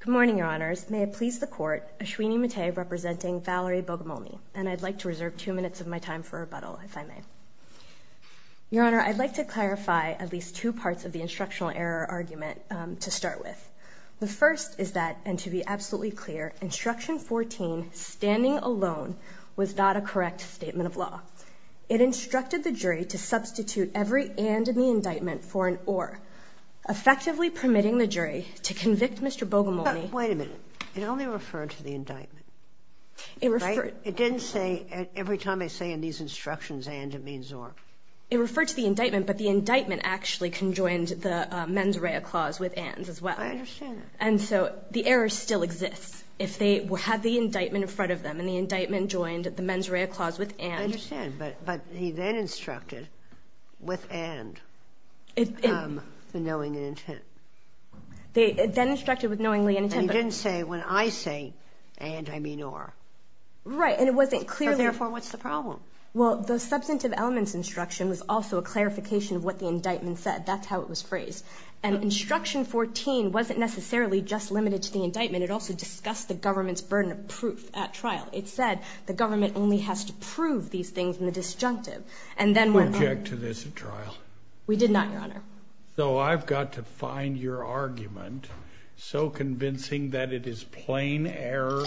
Good morning, your honors. May it please the court, Ashwini Mate representing Valerie Bogomolny, and I'd like to reserve two minutes of my time for rebuttal, if I may. Your honor, I'd like to clarify at least two parts of the instructional error argument to start with. The first is that, and to be absolutely clear, instruction 14, standing alone, was not a correct statement of law. It instructed the jury to substitute every and in the only referred to the indictment. It didn't say every time I say in these instructions and it means or. It referred to the indictment, but the indictment actually conjoined the mens rea clause with ands as well. I understand that. And so the error still exists, if they had the indictment in front of them, and the indictment joined the mens rea clause with ands. I understand, but he then instructed with and, the knowing and intent. They then instructed with knowingly and intent. And he didn't say when I say and, I mean or. Right, and it wasn't clearly. So therefore, what's the problem? Well, the substantive elements instruction was also a clarification of what the indictment said. That's how it was phrased. And instruction 14 wasn't necessarily just limited to the indictment. It also discussed the government's burden of proof at trial. It said the government only has to prove these things in the disjunctive. And then when. Object to this at trial. We did not, Your Honor. So I've got to find your argument. So convincing that it is plain error.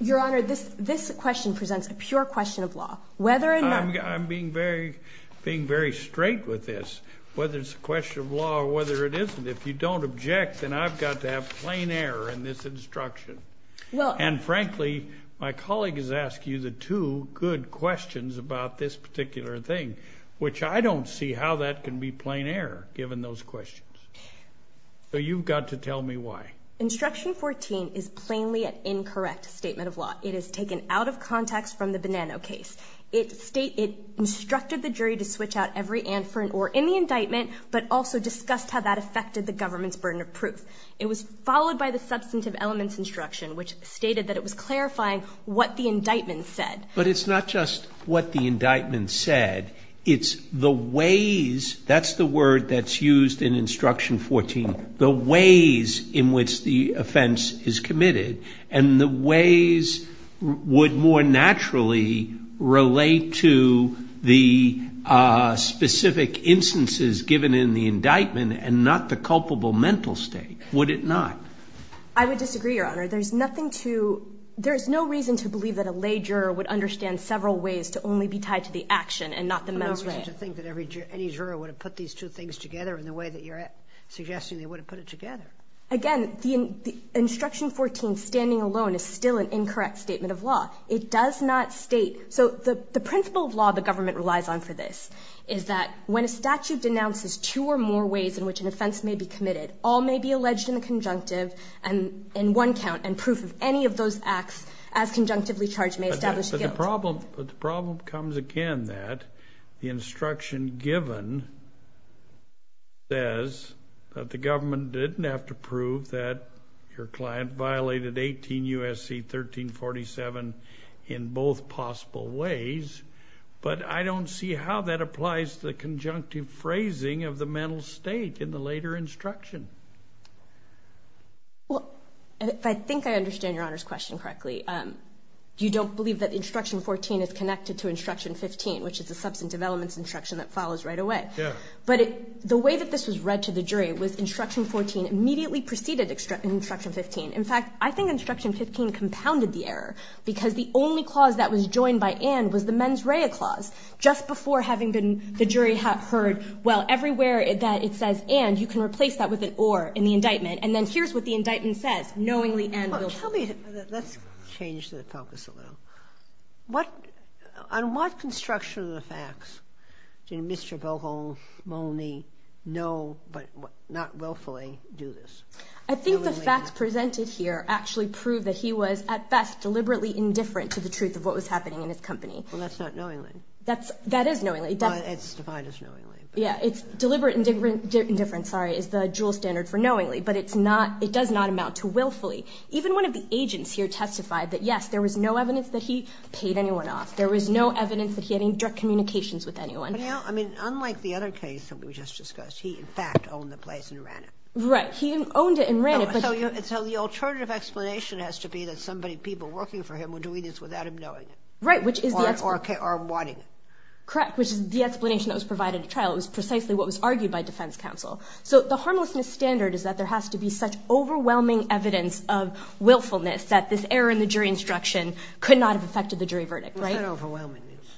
Your Honor, this, this question presents a pure question of law. Whether or not. I'm being very, being very straight with this. Whether it's a question of law or whether it isn't. If you don't object, then I've got to have plain error in this instruction. Well. And frankly, my colleague has asked you the two good questions about this particular thing. Which I don't see how that can be plain error, given those two questions. So you've got to tell me why. Instruction 14 is plainly an incorrect statement of law. It is taken out of context from the Bonanno case. It state, it instructed the jury to switch out every ant for an oar in the indictment, but also discussed how that affected the government's burden of proof. It was followed by the substantive elements instruction, which stated that it was clarifying what the indictment said. But it's not just what the indictment said. It's the ways, that's the word that's used in instruction 14, the ways in which the offense is committed. And the ways would more naturally relate to the specific instances given in the indictment, and not the culpable mental state. Would it not? I would disagree, Your Honor. There's nothing to, there's no reason to believe that a lay juror would understand several ways to only be tied to the action and not the mental state. There's no reason to think that any juror would have put these two things together in the way that you're suggesting they would have put it together. Again, the instruction 14 standing alone is still an incorrect statement of law. It does not state, so the principle of law the government relies on for this, is that when a statute denounces two or more ways in which an offense may be committed, all may be alleged in the conjunctive, and in one count, and proof of any of those acts as the instruction given says that the government didn't have to prove that your client violated 18 U.S.C. 1347 in both possible ways, but I don't see how that applies to the conjunctive phrasing of the mental state in the later instruction. Well, I think I understand Your Honor's question correctly. You don't believe that instruction 14 is connected to instruction 15, which is a concepts and developments instruction that follows right away. But the way that this was read to the jury was instruction 14 immediately preceded instruction 15. In fact, I think instruction 15 compounded the error, because the only clause that was joined by and was the mens rea clause. Just before having been the jury heard, well, everywhere that it says and, you can replace that with an or in the indictment, and then here's what the indictment says, knowingly and willfully. Tell me, let's change the focus a little. On what construction of the facts did Mr. Bohol, Mone, know but not willfully do this? I think the facts presented here actually prove that he was at best deliberately indifferent to the truth of what was happening in his company. Well, that's not knowingly. That's, that is knowingly. It's defined as knowingly. Yeah, it's deliberate indifference, sorry, is the dual standard for knowingly, but it's not, it does not amount to knowingly. I think the agents here testified that, yes, there was no evidence that he paid anyone off. There was no evidence that he had any direct communications with anyone. But now, I mean, unlike the other case that we just discussed, he, in fact, owned the place and ran it. Right. He owned it and ran it, but. No, so you, so the alternative explanation has to be that somebody, people working for him were doing this without him knowing it. Right, which is the explanation. Or, or wanting it. Correct, which is the explanation that was provided at trial. It was precisely what was argued by defense counsel. So the harmlessness standard is that there has to be such overwhelming evidence of willfulness that this error in the jury instruction could not have affected the jury verdict. Right. It's not overwhelming. It's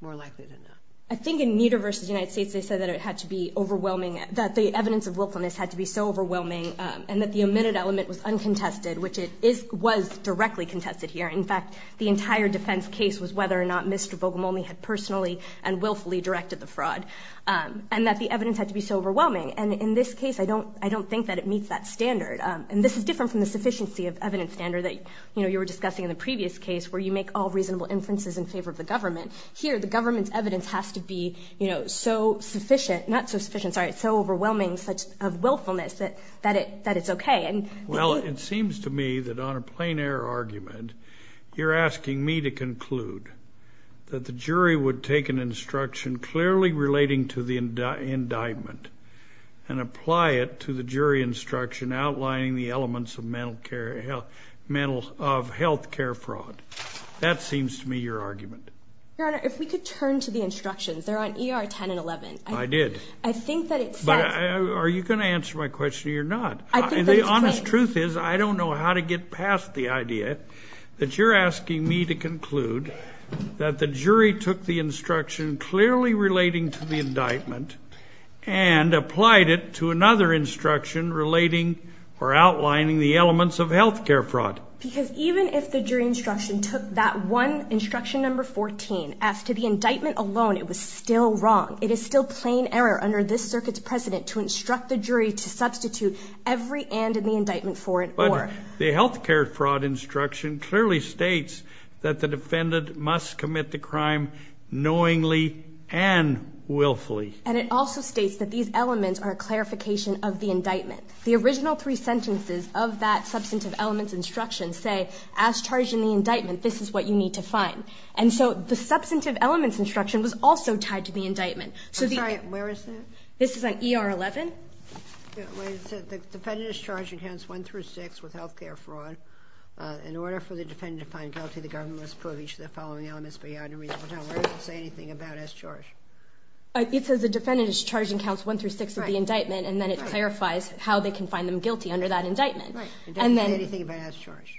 more likely than not. I think in Meador versus United States, they said that it had to be overwhelming, that the evidence of willfulness had to be so overwhelming and that the omitted element was uncontested, which it is, was directly contested here. In fact, the entire defense case was whether or not Mr. Bogomolny had personally and willfully directed the fraud and that the evidence had to be so overwhelming. And in this case, I don't, I don't think that it meets that standard. And this is different from the sufficiency of evidence standard that, you know, you were discussing in the previous case where you make all reasonable inferences in favor of the government. Here, the government's evidence has to be, you know, so sufficient, not so sufficient, sorry, so overwhelming such of willfulness that, that it, that it's okay. Well, it seems to me that on a plain error argument, you're asking me to conclude that the jury would take an instruction clearly relating to the indictment and apply it to the jury instruction outlining the elements of mental care, mental, of health care fraud. That seems to me your argument. Your Honor, if we could turn to the instructions, they're on ER 10 and 11. I did. I think that it says. But are you going to answer my question or you're not? And the honest truth is, I don't know how to get past the idea that you're asking me to conclude that the jury took the instruction clearly relating to the indictment and applied it to another instruction relating or outlining the elements of health care fraud. Because even if the jury instruction took that one instruction number 14, as to the indictment alone, it was still wrong. It is still plain error under this circuit's precedent to instruct the jury to substitute every and in the indictment for it. But the health care fraud instruction clearly states that the defendant must commit the crime knowingly and willfully. And it also states that these elements are a clarification of the indictment. The original three sentences of that substantive elements instruction say, as charged in the indictment, this is what you need to find. And so the substantive elements instruction was also tied to the indictment. I'm sorry. Where is that? This is on ER 11. Wait a second. The defendant is charged in counts 1 through 6 with health care fraud. In order for the defendant to find guilty, the government must prove each of the following elements beyond a reasonable doubt. Where does it say anything about as charged? It says the defendant is charged in counts 1 through 6 of the indictment, and then it clarifies how they can find them guilty under that indictment. Right. And doesn't say anything about as charged.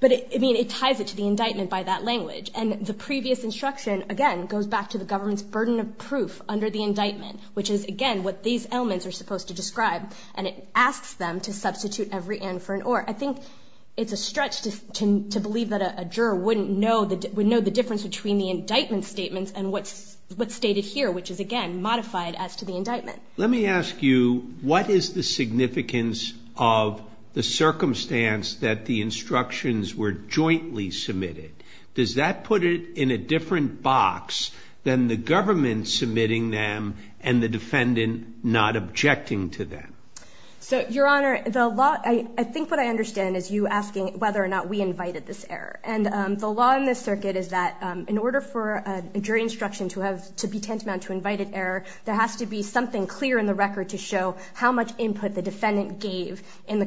But, I mean, it ties it to the indictment by that language. And the previous instruction, again, goes back to the government's burden of proof under the indictment, which is, again, what these elements are supposed to describe. And it asks them to substitute every and for an or. I think it's a stretch to believe that a juror wouldn't know the difference between the indictment statements and what's stated here, which is, again, modified as to the indictment. Let me ask you, what is the significance of the circumstance that the instructions were jointly submitted? Does that put it in a different box than the government submitting them and the defendant not objecting to them? So, Your Honor, I think what I understand is you asking whether or not we invited this error. And the law in this circuit is that in order for a jury instruction to be tantamount to invited error, there has to be something clear in the record to show how much input the defendant gave in the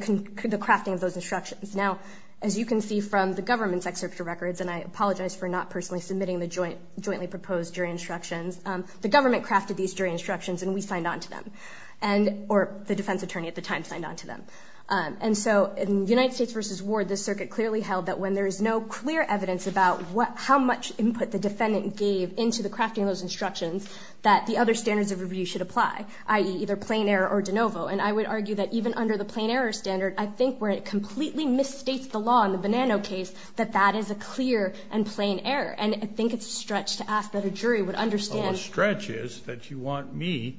crafting of those instructions. Now, as you can see from the government's excerpt of records, and I apologize for not personally submitting the jointly proposed jury instructions, the government crafted these jury instructions and we signed on to them. Or the defense attorney at the time signed on to them. And so in United States v. Ward, this circuit clearly held that when there is no clear evidence about how much input the defendant gave into the crafting of those instructions, that the other standards of review should apply, i.e., either plain error or de novo. And I would argue that even under the plain error standard, I think where it completely misstates the law in the Bonanno case, that that is a clear and plain error. And I think it's a stretch to ask that a jury would understand. Well, the stretch is that you want me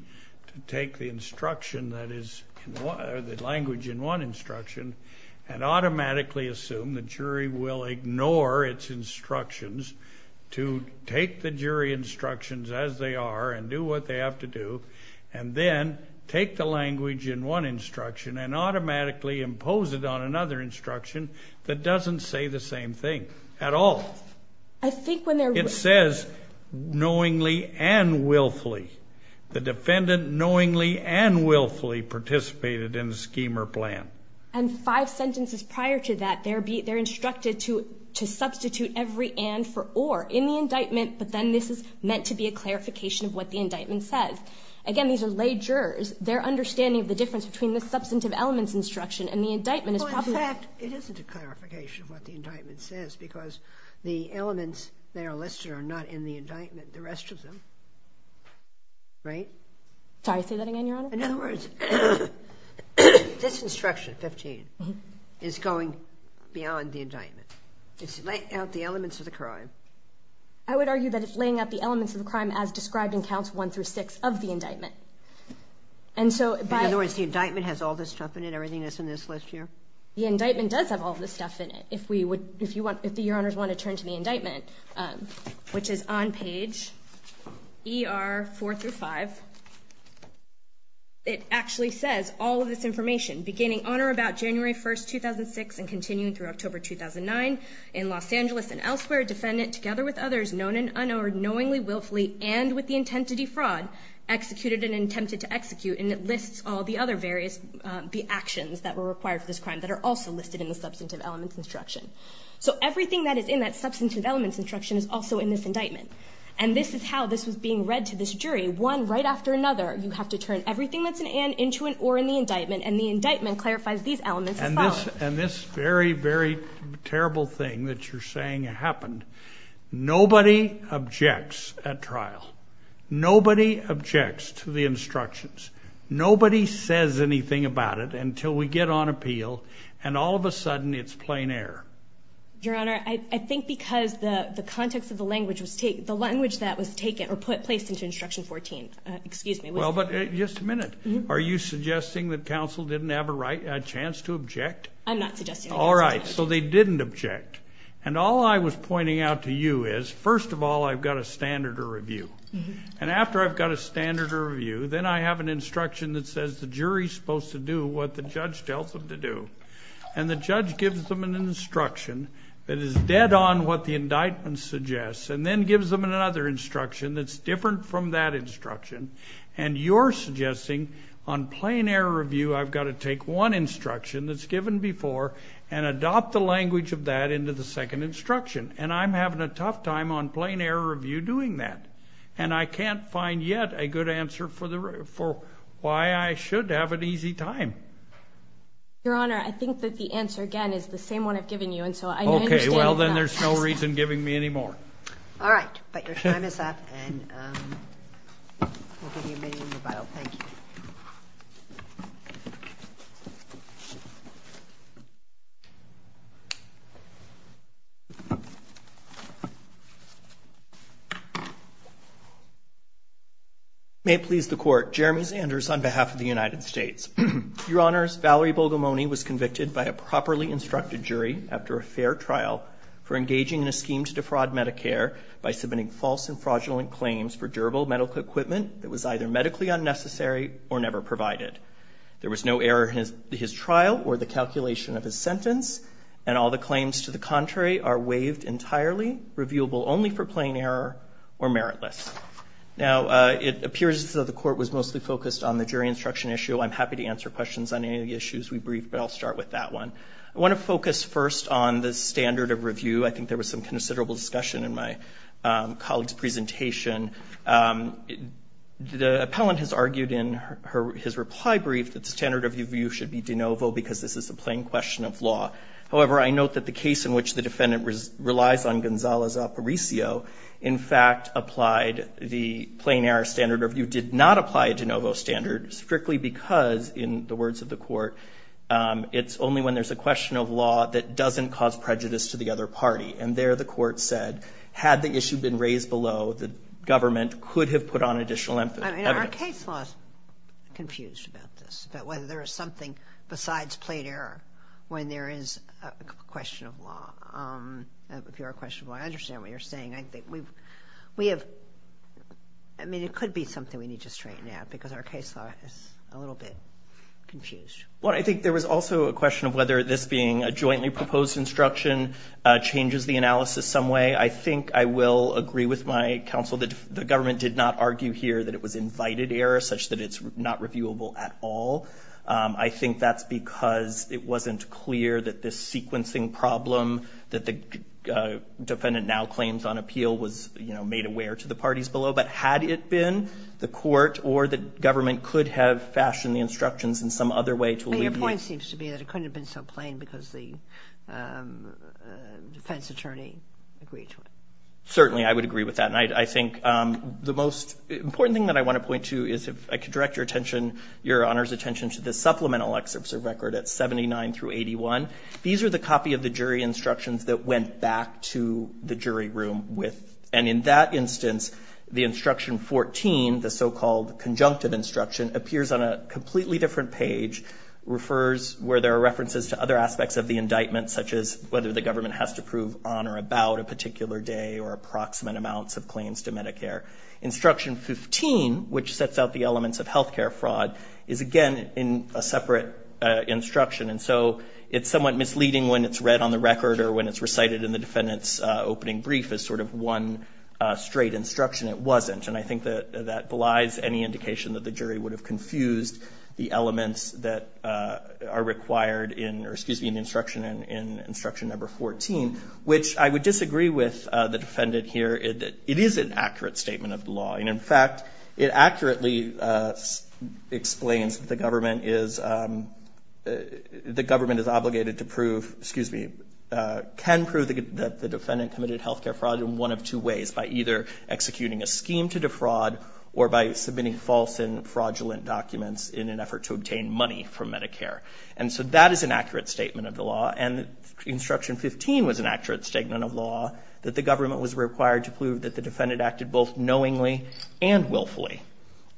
to take the instruction that is, or the jury will ignore its instructions, to take the jury instructions as they are and do what they have to do, and then take the language in one instruction and automatically impose it on another instruction that doesn't say the same thing at all. I think when they're... It says, knowingly and willfully. The defendant knowingly and willfully participated in a scheme or plan. And five sentences prior to that, they're instructed to substitute every and for or in the indictment, but then this is meant to be a clarification of what the indictment says. Again, these are lay jurors. Their understanding of the difference between the substantive elements instruction and the indictment is probably... Well, in fact, it isn't a clarification of what the indictment says, because the elements that are listed are not in the indictment, the rest of them. Right? Sorry. Say that again, Your Honor? In other words, this instruction, 15, is going beyond the indictment. It's laying out the elements of the crime. I would argue that it's laying out the elements of the crime as described in Counts 1 through 6 of the indictment. And so, by... In other words, the indictment has all this stuff in it, everything that's in this list here? The indictment does have all this stuff in it. If we would, if you want, if the it actually says, all of this information, beginning on or about January 1st, 2006, and continuing through October 2009, in Los Angeles and elsewhere, defendant, together with others, known and unknown, knowingly, willfully, and with the intent to defraud, executed and attempted to execute, and it lists all the other various, the actions that were required for this crime that are also listed in the substantive elements instruction. So everything that is in that substantive elements instruction is also in this indictment. And this is how this was being read to this jury, one right after another. You have to turn everything that's an and into an or in the indictment, and the indictment clarifies these elements as follows. And this very, very terrible thing that you're saying happened, nobody objects at trial. Nobody objects to the instructions. Nobody says anything about it until we get on appeal, and all of a sudden, it's plain air. Your Honor, I think because the context of the language was taken, the language that was taken, or put, placed into instruction 14, excuse me. Well, but just a minute. Are you suggesting that counsel didn't have a right, a chance to object? I'm not suggesting that. All right, so they didn't object. And all I was pointing out to you is, first of all, I've got a standard to review. And after I've got a standard to review, then I have an instruction that says the jury's supposed to do what the judge tells them to do. And the judge gives them an instruction that is dead on what the indictment suggests, and then gives them another instruction that's different from that instruction. And you're suggesting, on plain air review, I've got to take one instruction that's given before and adopt the language of that into the second instruction. And I'm having a tough time on plain air review doing that. And I can't find yet a good answer for why I should have an easy time. Your Honor, I think that the answer, again, is the same one I've given you. And so I understand that. OK, well, then there's no reason giving me any more. All right. But your time is up. And we'll give you a minimum rebuttal. Thank you. May it please the Court. Jeremy Sanders on behalf of the United States. Your Honors, Valerie Bogomolny was convicted by a properly instructed jury after a fair trial for engaging in a scheme to defraud Medicare by submitting false and fraudulent claims for durable medical equipment that was either medically unnecessary or never provided. There was no error in his trial or the calculation of his sentence. And all the claims to the contrary are waived entirely, reviewable only for plain error or meritless. Now, it appears that the Court was mostly focused on the jury instruction issue. I'm happy to answer questions on any of the issues we briefed, but I'll start with that one. I want to focus first on the standard of review. I think there was some considerable discussion in my colleague's presentation. The appellant has argued in his reply brief that standard of review should be de novo because this is a plain question of law. However, I note that the case in which the defendant relies on Gonzales-Aparicio, in fact, applied the plain error standard of review, did not apply a de novo standard strictly because, in the words of the Court, it's only when there's a question of law that doesn't cause prejudice to the other party. And there, the Court said, had the issue been raised below, the government could have put on additional evidence. Our case law is confused about this, about whether there is something besides plain error when there is a question of law. If you're a question of law, I understand what you're saying. I think we've, we have, I mean, it could be something we need to a little bit confused. Well, I think there was also a question of whether this being a jointly proposed instruction changes the analysis some way. I think I will agree with my counsel that the government did not argue here that it was invited error, such that it's not reviewable at all. I think that's because it wasn't clear that this sequencing problem that the defendant now claims on appeal was, you know, made aware to the parties below. But had it been, the Court or the government could have fashioned the instructions in some other way to alleviate it. But your point seems to be that it couldn't have been so plain because the defense attorney agreed to it. Certainly, I would agree with that. And I think the most important thing that I want to point to is, if I could direct your attention, Your Honor's attention to the supplemental excerpts of record at 79 through 81. These are the copy of the jury instructions that went back to the jury room with, and in that instance, the instruction 14, the so-called conjunctive instruction, appears on a completely different page, refers where there are references to other aspects of the indictment, such as whether the government has to prove on or about a particular day or approximate amounts of claims to Medicare. Instruction 15, which sets out the elements of health care fraud, is again in a separate instruction. And so it's somewhat misleading when it's read on the record or when it's recited in the defendant's opening brief as sort of one straight instruction. It wasn't. And I think that that belies any indication that the jury would have confused the elements that are required in, or excuse me, in the instruction, in instruction number 14, which I would disagree with the defendant here. It is an accurate statement of the law. And in fact, it accurately explains that the government is, the government is obligated to prove, excuse me, can prove that the defendant committed health care fraud in one of two ways, by either executing a scheme to fraud or by submitting false and fraudulent documents in an effort to obtain money from Medicare. And so that is an accurate statement of the law. And instruction 15 was an accurate statement of law, that the government was required to prove that the defendant acted both knowingly and willfully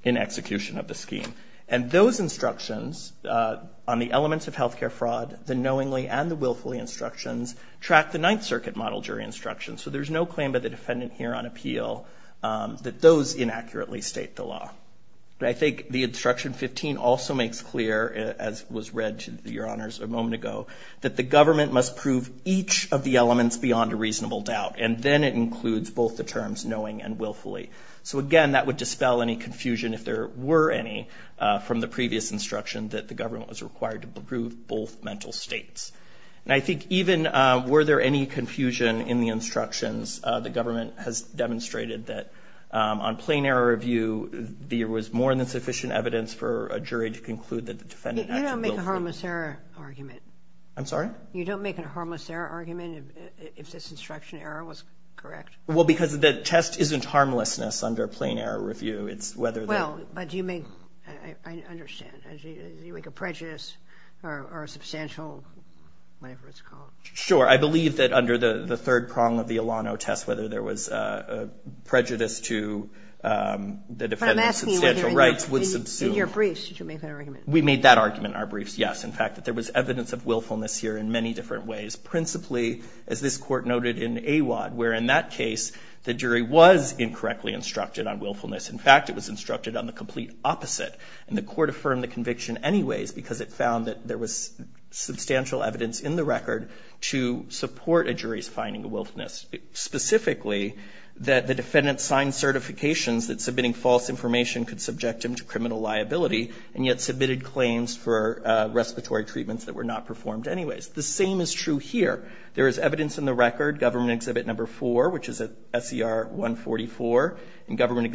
in execution of the scheme. And those instructions on the elements of health care fraud, the knowingly and the willfully instructions, track the Ninth Circuit model jury instruction. So there's no claim by the defendant here on appeal that those inaccurately state the law. But I think the instruction 15 also makes clear, as was read to your honors a moment ago, that the government must prove each of the elements beyond a reasonable doubt. And then it includes both the terms knowing and willfully. So again, that would dispel any confusion if there were any from the previous instruction that the government was required to prove both mental states. And I think even were there any confusion in the instructions, the government has demonstrated that on plain error review, there was more than sufficient evidence for a jury to conclude that the defendant acted willfully. You don't make a harmless error argument. I'm sorry? You don't make a harmless error argument if this instruction error was correct? Well, because the test isn't harmlessness under plain error review. It's whether... Well, but do you make, I mean, a substantial, whatever it's called. Sure. I believe that under the third prong of the Alano test, whether there was prejudice to the defendant's substantial rights would subsume. But I'm asking whether in your briefs, did you make that argument? We made that argument in our briefs, yes. In fact, that there was evidence of willfulness here in many different ways. Principally, as this Court noted in Awad, where in that case, the jury was incorrectly instructed on willfulness. In fact, it was instructed on the complete opposite. And the Court affirmed the conviction anyways, because it found that there was substantial evidence in the record to support a jury's finding of willfulness. Specifically, that the defendant signed certifications that submitting false information could subject him to criminal liability, and yet submitted claims for respiratory treatments that were not performed anyways. The same is true here. There is evidence in the record, Government Exhibit No. 4, which is at S.E.R. 144, and Government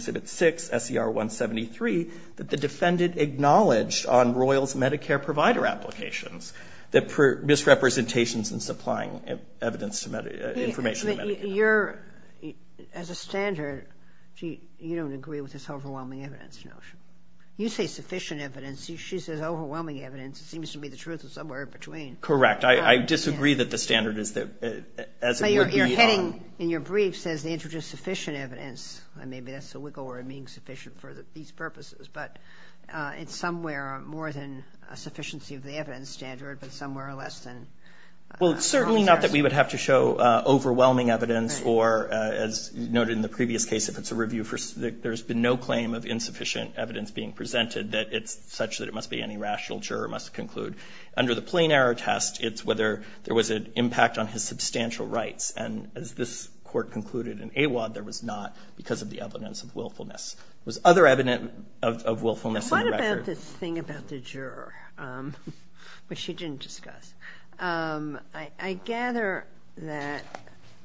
acknowledged on Royals Medicare provider applications, that misrepresentations in supplying evidence to, information to Medicare. You're, as a standard, you don't agree with this overwhelming evidence notion. You say sufficient evidence. She says overwhelming evidence. It seems to me the truth is somewhere in between. Correct. I disagree that the standard is that, as it would be. So you're hitting, in your brief, says they introduced sufficient evidence. Maybe that's a wiggle, or it means sufficient for these purposes. But, it's somewhere more than a sufficiency of the evidence standard, but somewhere less than. Well, it's certainly not that we would have to show overwhelming evidence, or, as noted in the previous case, if it's a review for, there's been no claim of insufficient evidence being presented, that it's such that it must be any rational juror must conclude. Under the plain error test, it's whether there was an impact on his substantial rights. And as this Court concluded in AWAD, there was not, because of the evidence of willfulness. There was other evidence of willfulness in the record. What about this thing about the juror, which she didn't discuss? I gather that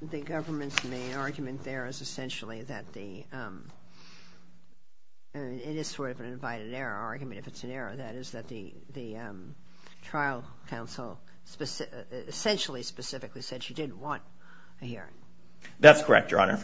the government's main argument there is essentially that the, it is sort of an invited error argument, if it's an error, that is that the, the trial counsel essentially, specifically said she didn't want a hearing. That's correct, Your Honor,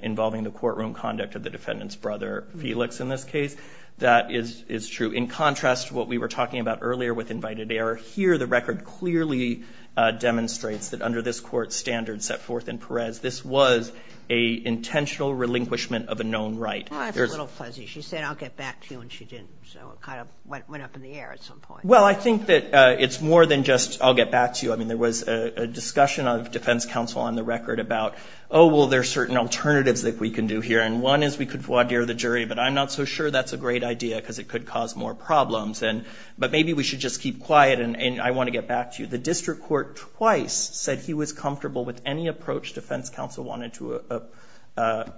involving the courtroom conduct of the defendant's brother, Felix, in this case. That is, is true. In contrast to what we were talking about earlier with invited error, here the record clearly demonstrates that under this Court's standards set forth in Perez, this was a intentional relinquishment of a known right. Well, I have a little fuzzy. She said I'll get back to you, and she didn't. So, it kind of went, went up in the air at some point. Well, I think that it's more than just I'll get back to you. I mean, there was a, a discussion of defense counsel on the record about, oh, well, there's certain alternatives that we can do here, and one is we could voir dire the jury, but I'm not so sure that's a great idea, because it could cause more problems, and, but maybe we should just keep quiet, and, and I want to get back to you. The district court twice said he was comfortable with any approach defense counsel wanted to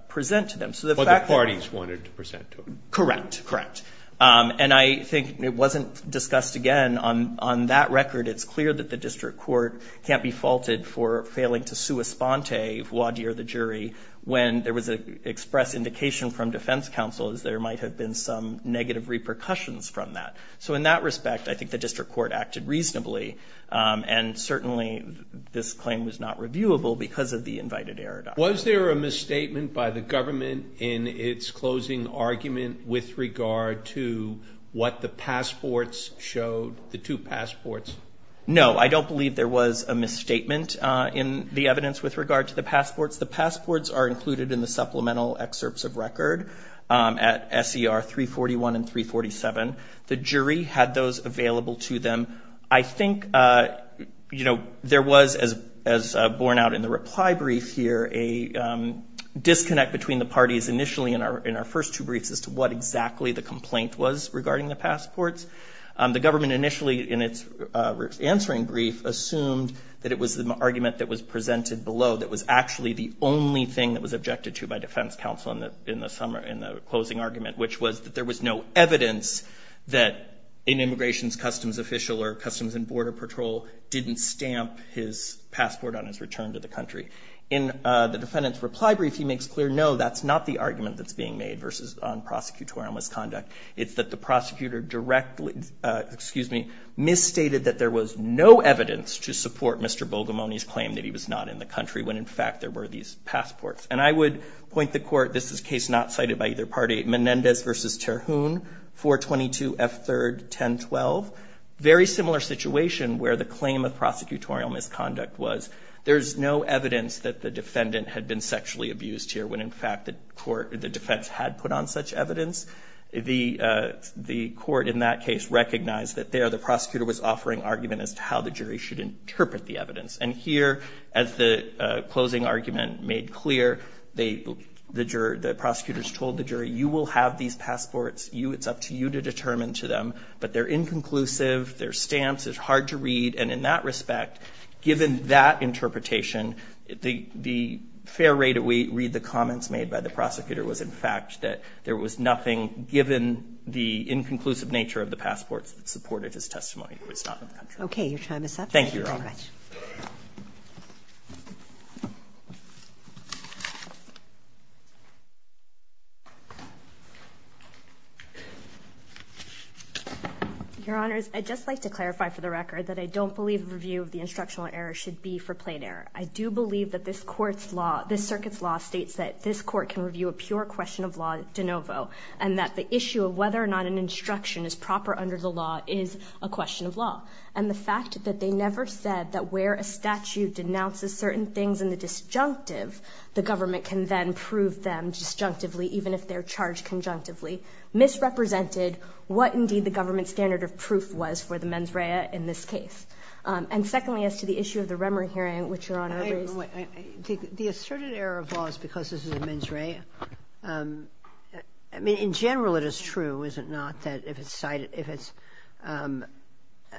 present to them. So, the fact that... But the parties wanted to present to him. Correct, correct. And I think it wasn't discussed again on, on that record. It's clear that the district court can't be faulted for failing to sua sponte, voir dire the jury, when there was an express indication from defense counsel, as there might have been some negative repercussions from that. So, in that respect, I think the district court acted reasonably. And certainly, this claim was not reviewable because of the invited error. Was there a misstatement by the government in its closing argument with regard to what the passports showed, the two passports? No, I don't believe there was a misstatement in the evidence with regard to the passports. The passports are included in the supplemental excerpts of record at SER 341 and 347. The jury had those available to them. I think, you know, there was, as, as borne out in the reply brief here, a disconnect between the parties initially in our, in our first two briefs as to what exactly the complaint was regarding the passports. The government initially, in its answering brief, assumed that it was the argument that was presented below that was actually the only thing that was objected to by defense counsel in the, in the summer, in the closing argument, which was that there was no evidence that an Immigration Customs official or Customs and Border Patrol didn't stamp his passport on his return to the country. In the defendant's reply brief, he makes clear, no, that's not the argument that's being made versus on prosecutorial misconduct. It's that the prosecutor directly, excuse me, misstated that there was no evidence to support Mr. Bogomolny's claim that he was not in the country when, in fact, there were these passports. And I would point the court, this is a case not cited by either party, Menendez v. Terhune, 422 F. 3rd, 1012. Very similar situation where the claim of prosecutorial misconduct was there's no evidence that the defendant had been sexually abused here when, in fact, the court, the defense had put on such evidence. The, the court in that case recognized that there, the prosecutor was offering argument as to how the jury should interpret the evidence. And here, as the closing argument made clear, they, the juror, the prosecutors told the jury, you will have these passports. You, it's up to you to determine to them. But they're inconclusive. They're stamps. It's hard to read. And in that respect, given that interpretation, the, the fair way to read the comments made by the prosecutor was, in fact, that there was nothing given the inconclusive nature of the passports that supported his testimony. He was not in the country. Okay. Your time is up. Thank you very much. Your Honors, I'd just like to clarify for the record that I don't believe a review of the instructional error should be for plain error. I do believe that this court's law, this circuit's law, states that this court can review a pure question of law de novo, and that the issue of whether or not an instruction is proper under the law, and the fact that they never said that where a statute denounces certain things in the disjunctive, the government can then prove them disjunctively even if they're charged conjunctively, misrepresented what, indeed, the government's standard of proof was for the mens rea in this case. And secondly, as to the issue of the Remmer hearing, which Your Honor raised. The asserted error of law is because this is a mens rea. I mean, in general it is true, is it not, that if it's cited, if it's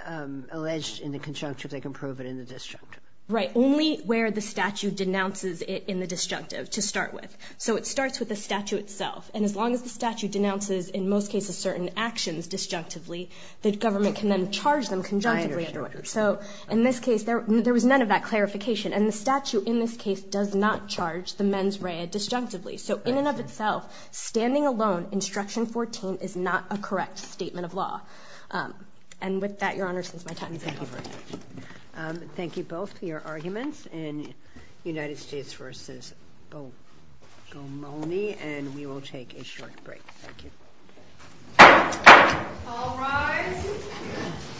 alleged in the conjunctive, they can prove it in the disjunctive? Right. Only where the statute denounces it in the disjunctive to start with. So it starts with the statute itself. And as long as the statute denounces, in most cases, certain actions disjunctively, the government can then charge them conjunctively. I understand. So in this case, there was none of that clarification. And the statute in this case does not charge the mens rea disjunctively. So in and of itself, standing alone, Instruction 14 is not a correct statement of law. And with that, Your Honor, since my time is up. Thank you very much. Thank you both for your arguments in United States versus Bocamoni. And we will take a short break. Thank you. All rise.